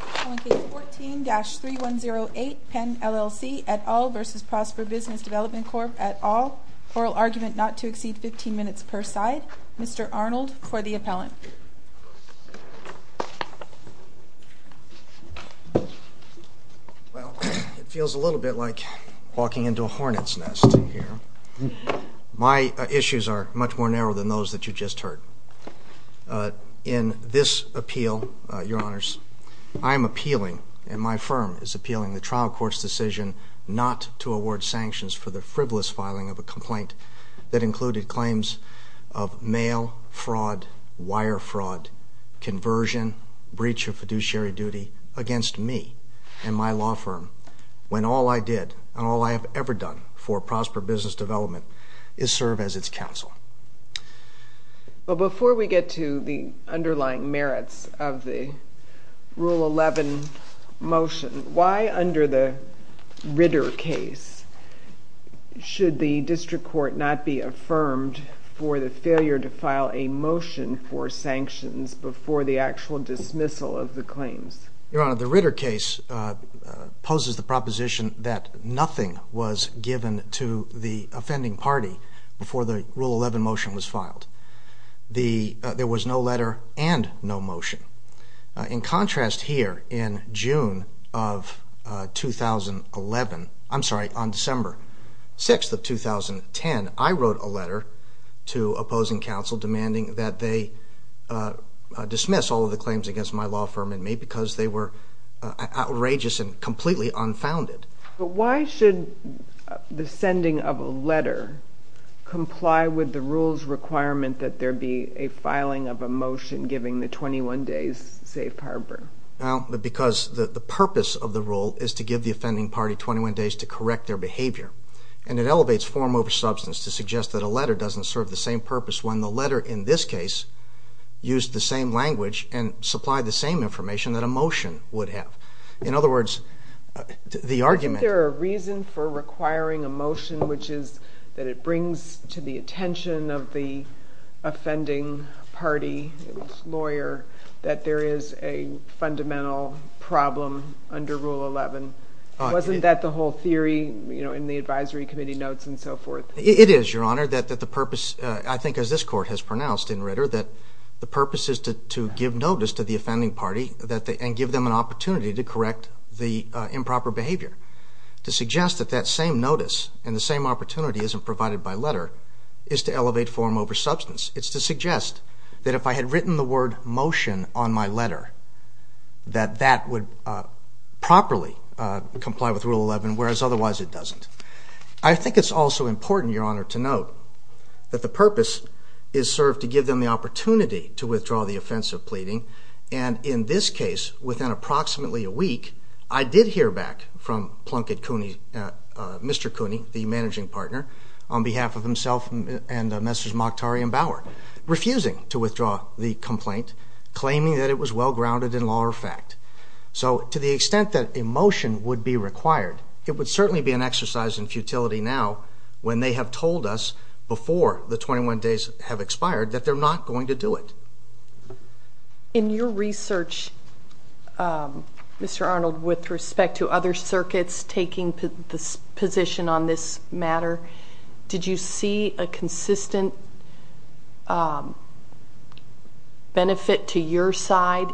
14-3108 Pen LLC et al. v. Prosper Business Development Corp et al. Oral Argument Not to Exceed 15 Minutes per Side Mr. Arnold for the Appellant Well, it feels a little bit like walking into a hornet's nest here. My issues are much more in this appeal, Your Honors. I am appealing, and my firm is appealing, the trial court's decision not to award sanctions for the frivolous filing of a complaint that included claims of mail fraud, wire fraud, conversion, breach of fiduciary duty against me and my law firm, when all I did and all I have ever done for Prosper Business Development is serve as its counsel. But before we get to the underlying merits of the Rule 11 motion, why under the Ritter case should the district court not be affirmed for the failure to file a motion for sanctions before the actual dismissal of the claims? Your Honor, the Ritter case poses the proposition that nothing was given to the offending party before the Rule 11 motion was filed. There was no letter and no motion. In contrast, here in June of 2011, I'm sorry, on December 6th of 2010, I wrote a letter to opposing counsel demanding that they dismiss all of the claims against my law firm and me because they were outrageous and completely unfounded. But why should the sending of a letter comply with the Rule's requirement that there be a filing of a motion giving the 21 days safe harbor? Well, because the purpose of the Rule is to give the offending party 21 days to correct their behavior. And it elevates form over substance to suggest that a letter doesn't serve the same purpose when the letter in this case used the same language and supplied the same information that a motion would have. In other words, the argument... Which is that it brings to the attention of the offending party lawyer that there is a fundamental problem under Rule 11. Wasn't that the whole theory in the advisory committee notes and so forth? It is, Your Honor, that the purpose, I think as this court has pronounced in Ritter, that the purpose is to give notice to the offending party and give them an opportunity to correct the improper behavior. To suggest that that same notice and the same opportunity isn't provided by letter is to elevate form over substance. It's to suggest that if I had written the word motion on my letter that that would properly comply with Rule 11, whereas otherwise it doesn't. I think it's also important, Your Honor, to note that the purpose is served to give them the opportunity to withdraw the offense of pleading. And in this case, within approximately a week, I did hear back from Mr. Cooney, the managing partner, on behalf of himself and Messrs. Mokhtari and Bauer, refusing to withdraw the complaint, claiming that it was well-grounded in law or fact. So to the extent that a motion would be required, it would certainly be an exercise in futility now when they have told us before the 21 days have expired that they're not going to do it. In your research, Mr. Arnold, with respect to other circuits taking the position on this matter, did you see a consistent benefit to your side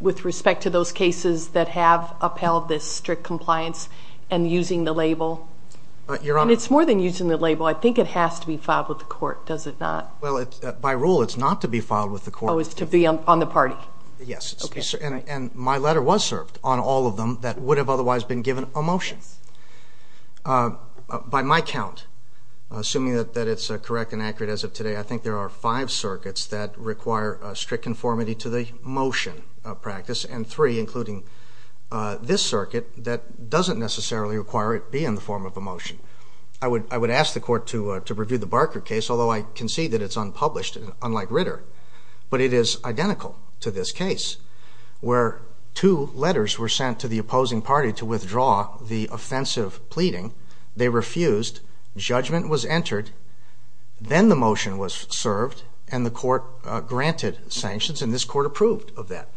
with respect to those cases that have upheld this strict compliance and using the label? It's more than using the label. I think it has to be filed with the court, does it not? Well, by rule, it's not to be filed with the court. Oh, it's to be on the party? Yes. And my letter was served on all of them that would have otherwise been given a motion. By my count, assuming that it's correct and accurate as of today, I think there are five circuits that require strict conformity to the motion practice, and three, including this circuit, that doesn't necessarily require it be in the form of a motion. I would ask the court to review the Barker case, although I concede that it's unpublished, unlike Ritter. But it is identical to this case, where two letters were sent to the opposing party to withdraw the offensive pleading. They refused, judgment was entered, then the motion was served, and the court granted sanctions, and this court approved of that.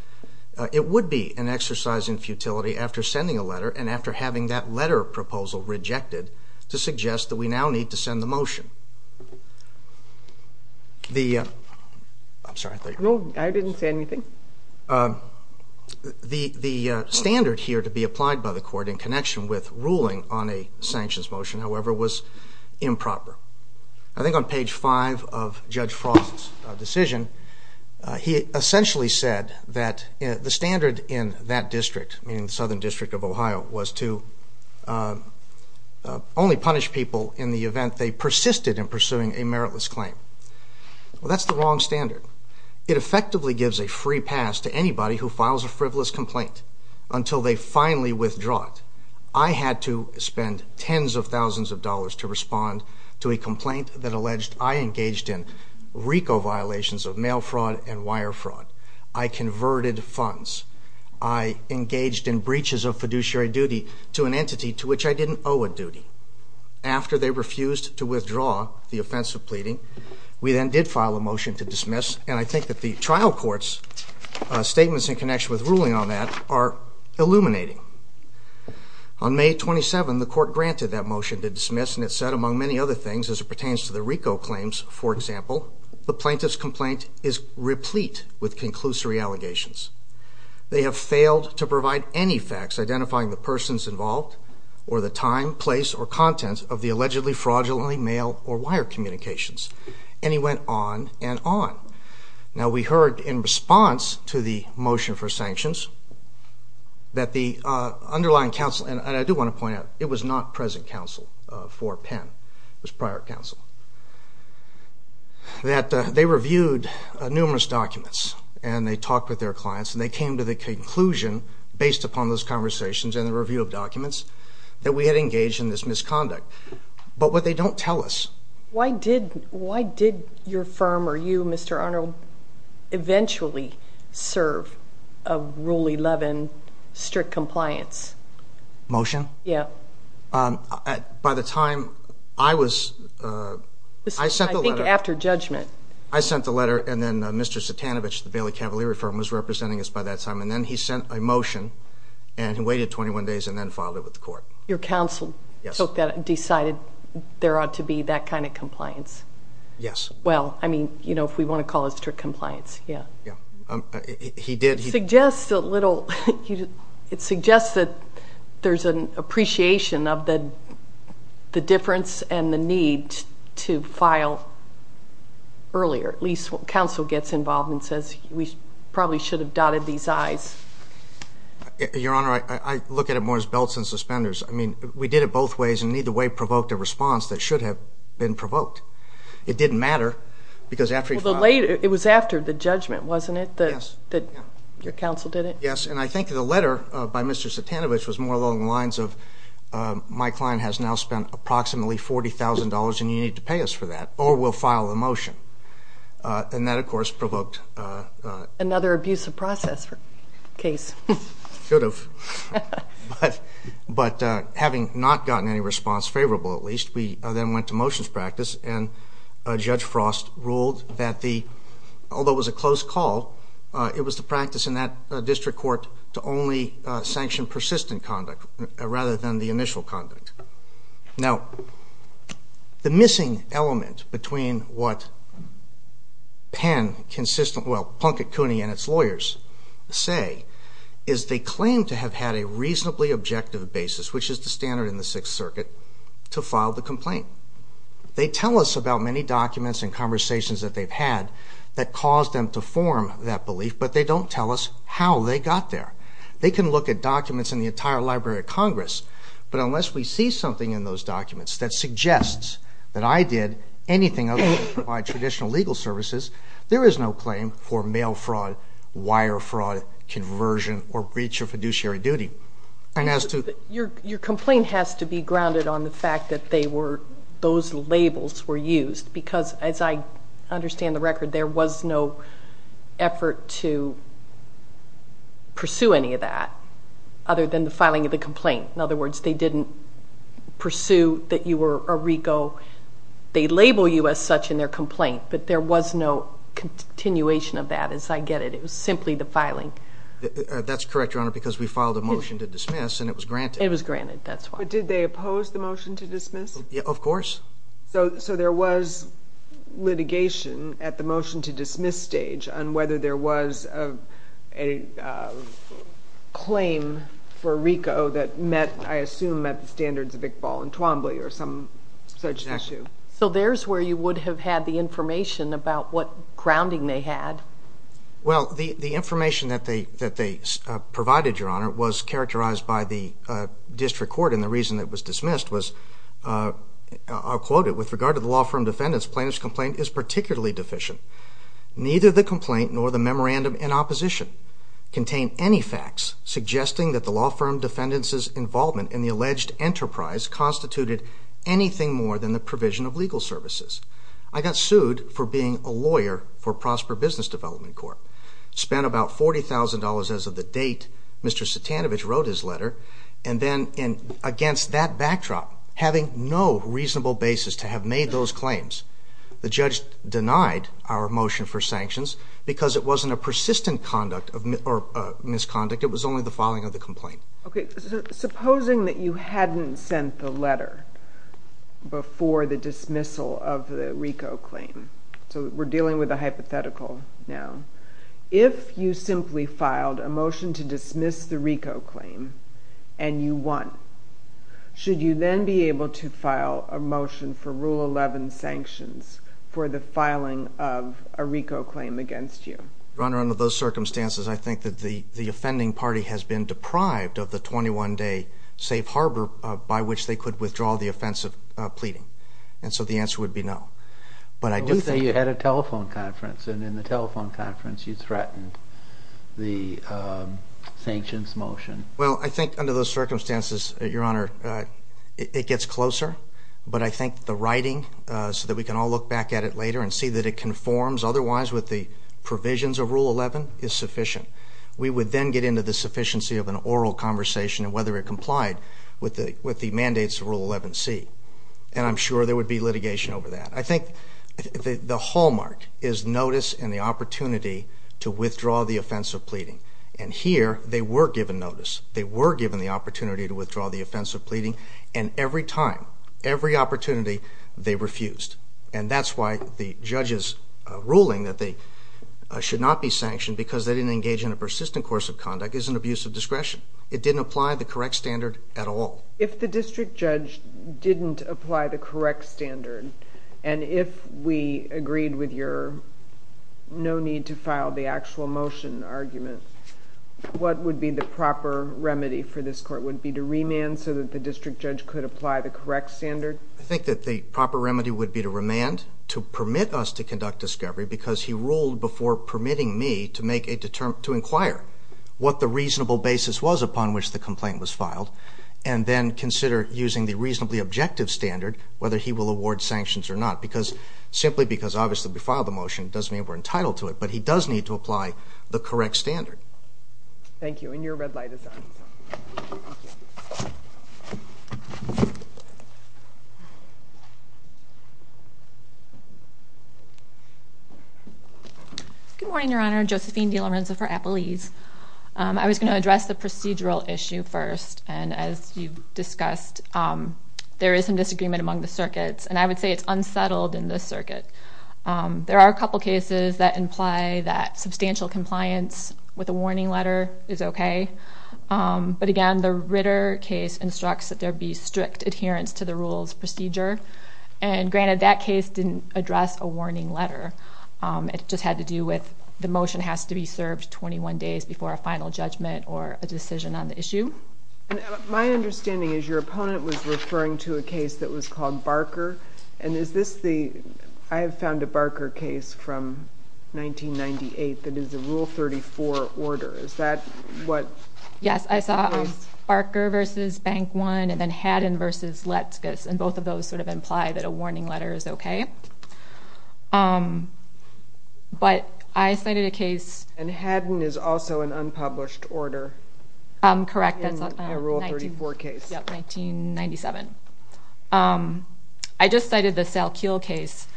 It would be an exercise in futility, after sending a letter and after having that letter proposal rejected, to suggest that we now need to send the motion. I'm sorry. No, I didn't say anything. The standard here to be applied by the court in connection with ruling on a sanctions motion, however, was improper. I think on page five of Judge Frost's decision, he essentially said that the standard in that district, in the Southern District of Ohio, was to only punish people in the event they persisted in pursuing a meritless claim. Well, that's the wrong standard. It effectively gives a free pass to anybody who files a frivolous complaint until they finally withdraw it. I had to spend tens of thousands of dollars to respond to a complaint that alleged I engaged in RICO violations of mail fraud and wire fraud. I converted funds. I engaged in breaches of fiduciary duty to an entity to which I didn't owe a duty. After they refused to withdraw the offensive pleading, we then did file a motion to dismiss, and I think that the trial court's statements in connection with ruling on that are illuminating. On May 27, the court granted that motion to dismiss, and it said, among many other things, as it pertains to the RICO claims, for example, the plaintiff's complaint is replete with conclusory allegations. They have failed to provide any facts identifying the persons involved or the time, place, or content of the allegedly fraudulently mail or wire communications. And he went on and on. Now, we heard in response to the motion for sanctions that the underlying counsel, and I do want to point out it was not present counsel for Penn. It was prior counsel. That they reviewed numerous documents, and they talked with their clients, and they came to the conclusion, based upon those conversations and the review of documents, that we had engaged in this misconduct. But what they don't tell us. Why did your firm or you, Mr. Arnold, eventually serve a Rule 11 strict compliance? Motion? Yeah. By the time I was, I sent the letter. I think after judgment. I sent the letter, and then Mr. Satanovich, the Bailey Cavalier firm, was representing us by that time. And then he sent a motion, and he waited 21 days, and then filed it with the court. Your counsel took that and decided there ought to be that kind of compliance? Yes. Well, I mean, you know, if we want to call it strict compliance, yeah. Yeah. He did. It suggests a little, it suggests that there's an appreciation of the difference and the need to file earlier. At least when counsel gets involved and says, we probably should have dotted these I's. Your Honor, I look at it more as belts and suspenders. I mean, we did it both ways, and neither way provoked a response that should have been provoked. It didn't matter, because after he filed. It was after the judgment, wasn't it? Yes. Your counsel did it? Yes, and I think the letter by Mr. Satanovich was more along the lines of, my client has now spent approximately $40,000, and you need to pay us for that, or we'll file a motion. And that, of course, provoked. Another abusive process case. Should have. But having not gotten any response favorable, at least, we then went to motions practice, and Judge Frost ruled that the, although it was a close call, it was the practice in that district court to only sanction persistent conduct rather than the initial conduct. Now, the missing element between what Penn consistently, well, Plunkett Cooney and its lawyers say, is they claim to have had a reasonably objective basis, which is the standard in the Sixth Circuit, to file the complaint. They tell us about many documents and conversations that they've had that caused them to form that belief, but they don't tell us how they got there. They can look at documents in the entire Library of Congress, but unless we see something in those documents that suggests that I did anything other than provide traditional legal services, there is no claim for mail fraud, wire fraud, conversion, or breach of fiduciary duty. Your complaint has to be grounded on the fact that those labels were used, because as I understand the record, there was no effort to pursue any of that other than the filing of the complaint. In other words, they didn't pursue that you were a RICO. They label you as such in their complaint, but there was no continuation of that, as I get it. It was simply the filing. That's correct, Your Honor, because we filed a motion to dismiss, and it was granted. It was granted, that's why. But did they oppose the motion to dismiss? Of course. So there was litigation at the motion to dismiss stage on whether there was a claim for RICO that met, I assume, met the standards of Iqbal and Twombly or some such issue. Exactly. So there's where you would have had the information about what grounding they had. Well, the information that they provided, Your Honor, was characterized by the district court, and the reason it was dismissed was, I'll quote it, with regard to the law firm defendant's plaintiff's complaint is particularly deficient. Neither the complaint nor the memorandum in opposition contain any facts suggesting that the law firm defendant's involvement in the alleged enterprise constituted anything more than the provision of legal services. I got sued for being a lawyer for Prosper Business Development Corp., spent about $40,000 as of the date Mr. Satanovich wrote his letter, and then against that backdrop, having no reasonable basis to have made those claims. The judge denied our motion for sanctions because it wasn't a persistent conduct or misconduct. It was only the filing of the complaint. Okay. Supposing that you hadn't sent the letter before the dismissal of the RICO claim. So we're dealing with a hypothetical now. If you simply filed a motion to dismiss the RICO claim and you won, should you then be able to file a motion for Rule 11 sanctions for the filing of a RICO claim against you? Your Honor, under those circumstances, I think that the offending party has been deprived of the 21-day safe harbor by which they could withdraw the offense of pleading, and so the answer would be no. Let's say you had a telephone conference, and in the telephone conference you threatened the sanctions motion. Well, I think under those circumstances, Your Honor, it gets closer, but I think the writing, so that we can all look back at it later and see that it conforms otherwise with the provisions of Rule 11, is sufficient. We would then get into the sufficiency of an oral conversation of whether it complied with the mandates of Rule 11C, and I'm sure there would be litigation over that. I think the hallmark is notice and the opportunity to withdraw the offense of pleading, and here they were given notice. They were given the opportunity to withdraw the offense of pleading, and every time, every opportunity, they refused, and that's why the judge's ruling that they should not be sanctioned because they didn't engage in a persistent course of conduct is an abuse of discretion. It didn't apply the correct standard at all. If the district judge didn't apply the correct standard, and if we agreed with your no need to file the actual motion argument, what would be the proper remedy for this Court? Would it be to remand so that the district judge could apply the correct standard? I think that the proper remedy would be to remand to permit us to conduct discovery because he ruled before permitting me to inquire what the reasonable basis was upon which the complaint was filed, and then consider using the reasonably objective standard whether he will award sanctions or not simply because, obviously, if we file the motion, it doesn't mean we're entitled to it, but he does need to apply the correct standard. Thank you, and your red light is on. Good morning, Your Honor. Josephine DeLorenzo for Appalese. I was going to address the procedural issue first, and as you discussed, there is some disagreement among the circuits, and I would say it's unsettled in this circuit. There are a couple cases that imply that substantial compliance with a warning letter is okay, but, again, the Ritter case instructs that there be strict adherence to the rules procedure, and, granted, that case didn't address a warning letter. It just had to do with the motion has to be served 21 days before a final judgment or a decision on the issue. My understanding is your opponent was referring to a case that was called Barker, and is this the I have found a Barker case from 1998 that is a Rule 34 order. Is that what? Yes, I saw Barker v. Bank One and then Haddon v. Letskus, and both of those sort of imply that a warning letter is okay. But I cited a case... And Haddon is also an unpublished order. Correct. In a Rule 34 case. Yep, 1997. I just cited the Salkeel case,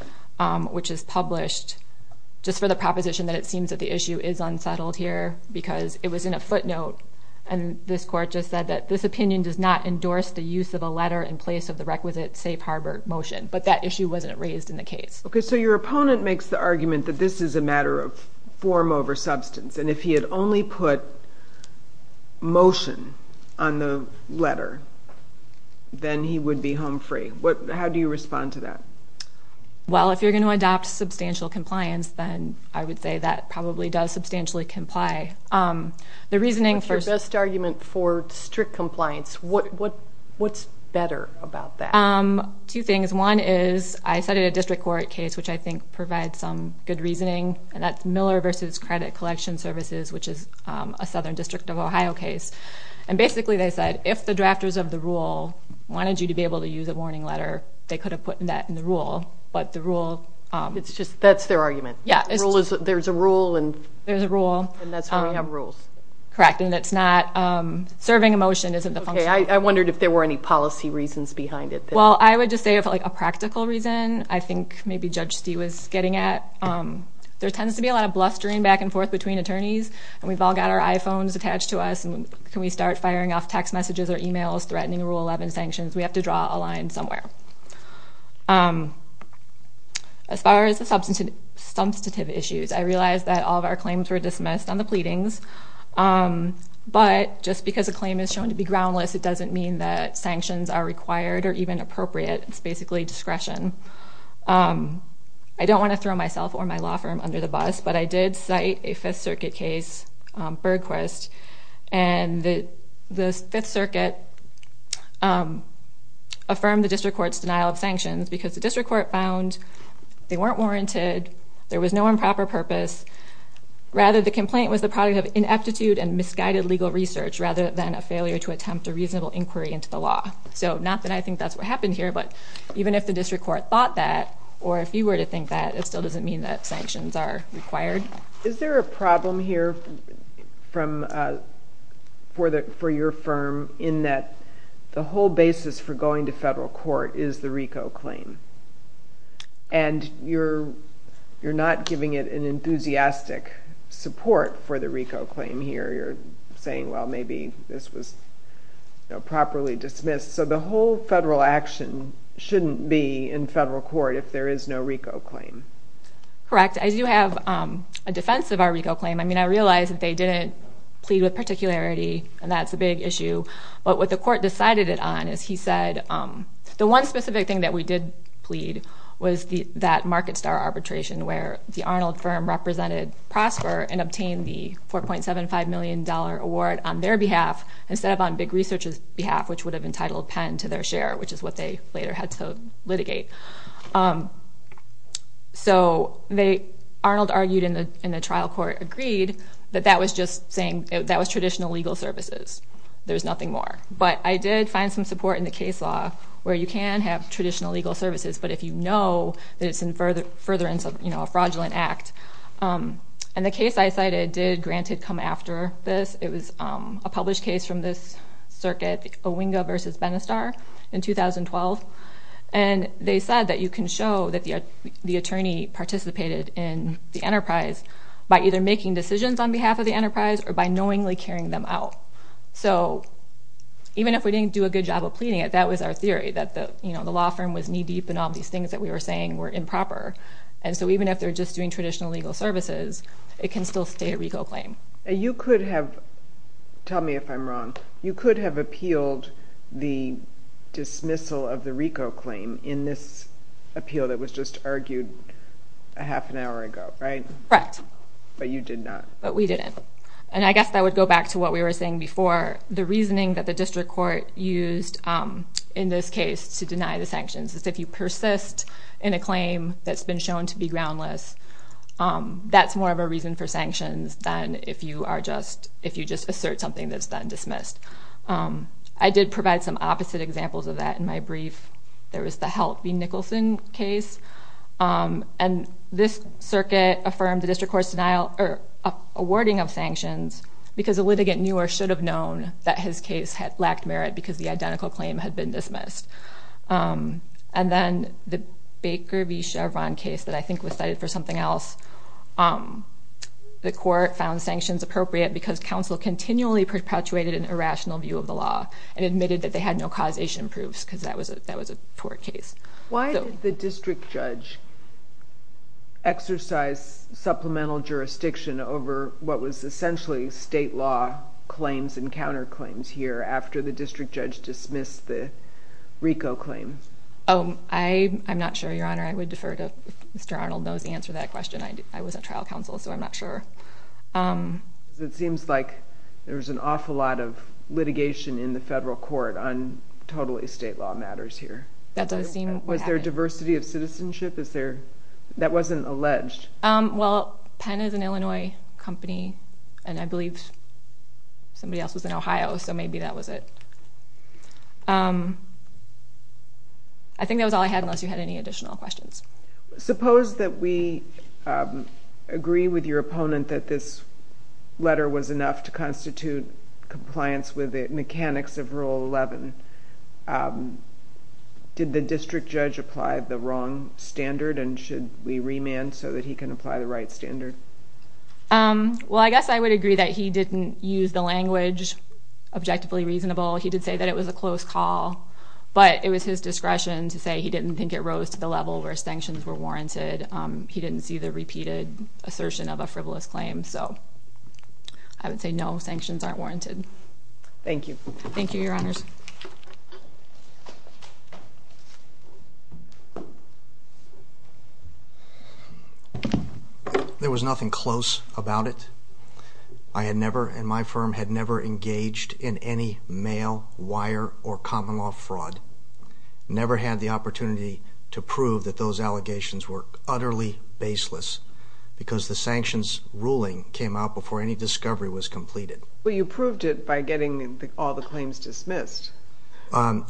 which is published just for the proposition that it seems that the issue is unsettled here because it was in a footnote, and this court just said that this opinion does not endorse the use of a letter in place of the requisite safe harbor motion, but that issue wasn't raised in the case. Okay, so your opponent makes the argument that this is a matter of form over substance, and if he had only put motion on the letter, then he would be home free. How do you respond to that? Well, if you're going to adopt substantial compliance, then I would say that probably does substantially comply. With your best argument for strict compliance, what's better about that? Two things. One is I cited a district court case, which I think provides some good reasoning, and that's Miller v. Credit Collection Services, which is a Southern District of Ohio case. And basically they said if the drafters of the rule wanted you to be able to use a warning letter, they could have put that in the rule, but the rule... That's their argument? Yeah. There's a rule and... We have rules. Correct, and it's not serving a motion isn't the function. Okay, I wondered if there were any policy reasons behind it. Well, I would just say a practical reason I think maybe Judge Stee was getting at. There tends to be a lot of blustering back and forth between attorneys, and we've all got our iPhones attached to us, and can we start firing off text messages or e-mails, threatening Rule 11 sanctions? We have to draw a line somewhere. As far as the substantive issues, I realize that all of our claims were dismissed on the pleadings, but just because a claim is shown to be groundless, it doesn't mean that sanctions are required or even appropriate. It's basically discretion. I don't want to throw myself or my law firm under the bus, but I did cite a Fifth Circuit case, Bergquist, and the Fifth Circuit affirmed the district court's denial of sanctions because the district court found they weren't warranted, there was no improper purpose. Rather, the complaint was the product of ineptitude and misguided legal research rather than a failure to attempt a reasonable inquiry into the law. So not that I think that's what happened here, but even if the district court thought that or if you were to think that, it still doesn't mean that sanctions are required. Is there a problem here for your firm in that the whole basis for going to federal court is the RICO claim, and you're not giving it an enthusiastic support for the RICO claim here? You're saying, well, maybe this was properly dismissed. So the whole federal action shouldn't be in federal court if there is no RICO claim. Correct. I do have a defense of our RICO claim. I mean, I realize that they didn't plead with particularity, and that's a big issue, but what the court decided it on is he said the one specific thing that we did plead was that MarketStar arbitration where the Arnold firm represented Prosper and obtained the $4.75 million award on their behalf instead of on Big Research's behalf, which would have entitled Penn to their share, which is what they later had to litigate. So Arnold argued and the trial court agreed that that was just saying that was traditional legal services. There's nothing more. But I did find some support in the case law where you can have traditional legal services, but if you know that it's furtherance of a fraudulent act. And the case I cited did, granted, come after this. It was a published case from this circuit, Owinga v. Benistar in 2012, and they said that you can show that the attorney participated in the enterprise by either making decisions on behalf of the enterprise or by knowingly carrying them out. So even if we didn't do a good job of pleading it, that was our theory, that the law firm was knee-deep in all these things that we were saying were improper. And so even if they're just doing traditional legal services, it can still stay a RICO claim. And you could have, tell me if I'm wrong, you could have appealed the dismissal of the RICO claim in this appeal that was just argued a half an hour ago, right? Correct. But you did not. But we didn't. And I guess that would go back to what we were saying before. The reasoning that the district court used in this case to deny the sanctions is if you persist in a claim that's been shown to be groundless, that's more of a reason for sanctions than if you just assert something that's been dismissed. I did provide some opposite examples of that in my brief. There was the Help v. Nicholson case, and this circuit affirmed the district court's awarding of sanctions because a litigant newer should have known that his case had lacked merit because the identical claim had been dismissed. And then the Baker v. Chauvin case that I think was cited for something else, the court found sanctions appropriate because counsel continually perpetuated an irrational view of the law and admitted that they had no causation proofs because that was a poor case. Why did the district judge exercise supplemental jurisdiction over what was essentially state law claims and counterclaims here after the district judge dismissed the RICO claim? Oh, I'm not sure, Your Honor. I would defer to if Mr. Arnold knows the answer to that question. I was a trial counsel, so I'm not sure. It seems like there was an awful lot of litigation in the federal court on totally state law matters here. Was there diversity of citizenship? That wasn't alleged. Well, Penn is an Illinois company, and I believe somebody else was in Ohio, so maybe that was it. I think that was all I had unless you had any additional questions. Suppose that we agree with your opponent that this letter was enough to constitute compliance with the mechanics of Rule 11. Did the district judge apply the wrong standard, and should we remand so that he can apply the right standard? Well, I guess I would agree that he didn't use the language objectively reasonable. He did say that it was a close call, but it was his discretion to say he didn't think it rose to the level where sanctions were warranted. He didn't see the repeated assertion of a frivolous claim, so I would say no, sanctions aren't warranted. Thank you. Thank you, Your Honors. There was nothing close about it. I had never, and my firm had never engaged in any mail, wire, or common law fraud, never had the opportunity to prove that those allegations were utterly baseless because the sanctions ruling came out before any discovery was completed. Well, you proved it by getting all the claims dismissed.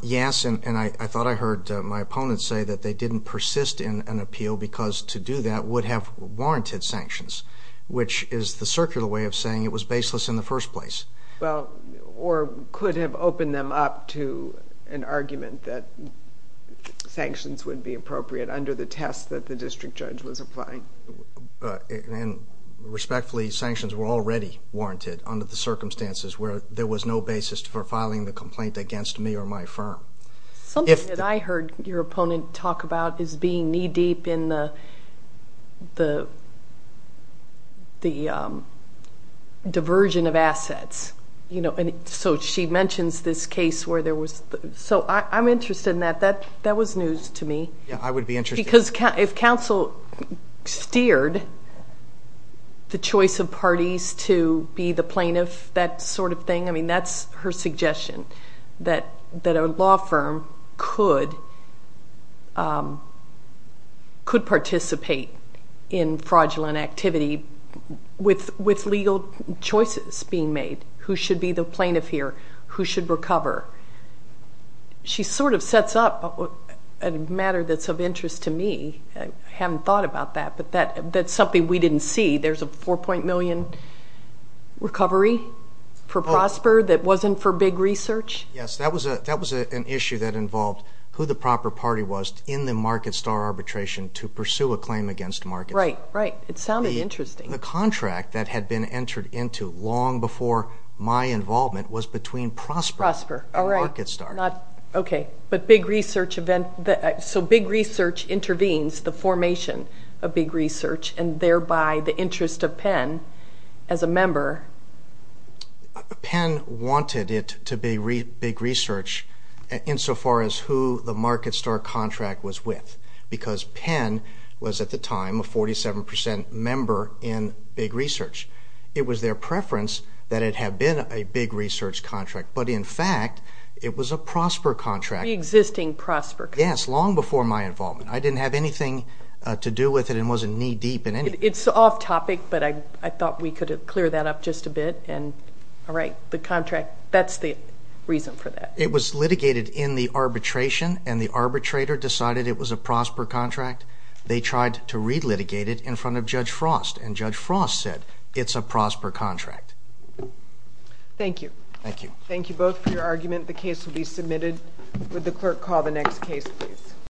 Yes, and I thought I heard my opponent say that they didn't persist in an appeal because to do that would have warranted sanctions, which is the circular way of saying it was baseless in the first place. Well, or could have opened them up to an argument that sanctions would be appropriate under the test that the district judge was applying. And respectfully, sanctions were already warranted under the circumstances where there was no basis for filing the complaint against me or my firm. Something that I heard your opponent talk about is being knee deep in the diversion of assets. So she mentions this case where there was, so I'm interested in that. That was news to me. Yes, I would be interested. Because if counsel steered the choice of parties to be the plaintiff, that sort of thing, I mean, that's her suggestion, that a law firm could participate in fraudulent activity with legal choices being made. Who should be the plaintiff here? Who should recover? She sort of sets up a matter that's of interest to me. I haven't thought about that, but that's something we didn't see. There's a 4. million recovery for Prosper that wasn't for Big Research? Yes, that was an issue that involved who the proper party was in the MarketStar arbitration to pursue a claim against MarketStar. Right, right. It sounded interesting. The contract that had been entered into long before my involvement was between Prosper and MarketStar. Okay, but Big Research intervenes the formation of Big Research and thereby the interest of Penn as a member. Penn wanted it to be Big Research insofar as who the MarketStar contract was with because Penn was at the time a 47% member in Big Research. It was their preference that it have been a Big Research contract, but in fact it was a Prosper contract. The existing Prosper contract. Yes, long before my involvement. I didn't have anything to do with it and wasn't knee-deep in anything. It's off-topic, but I thought we could clear that up just a bit. All right, the contract, that's the reason for that. It was litigated in the arbitration, and the arbitrator decided it was a Prosper contract. They tried to re-litigate it in front of Judge Frost, and Judge Frost said it's a Prosper contract. Thank you. Thank you. Thank you both for your argument. The case will be submitted. Would the clerk call the next case, please?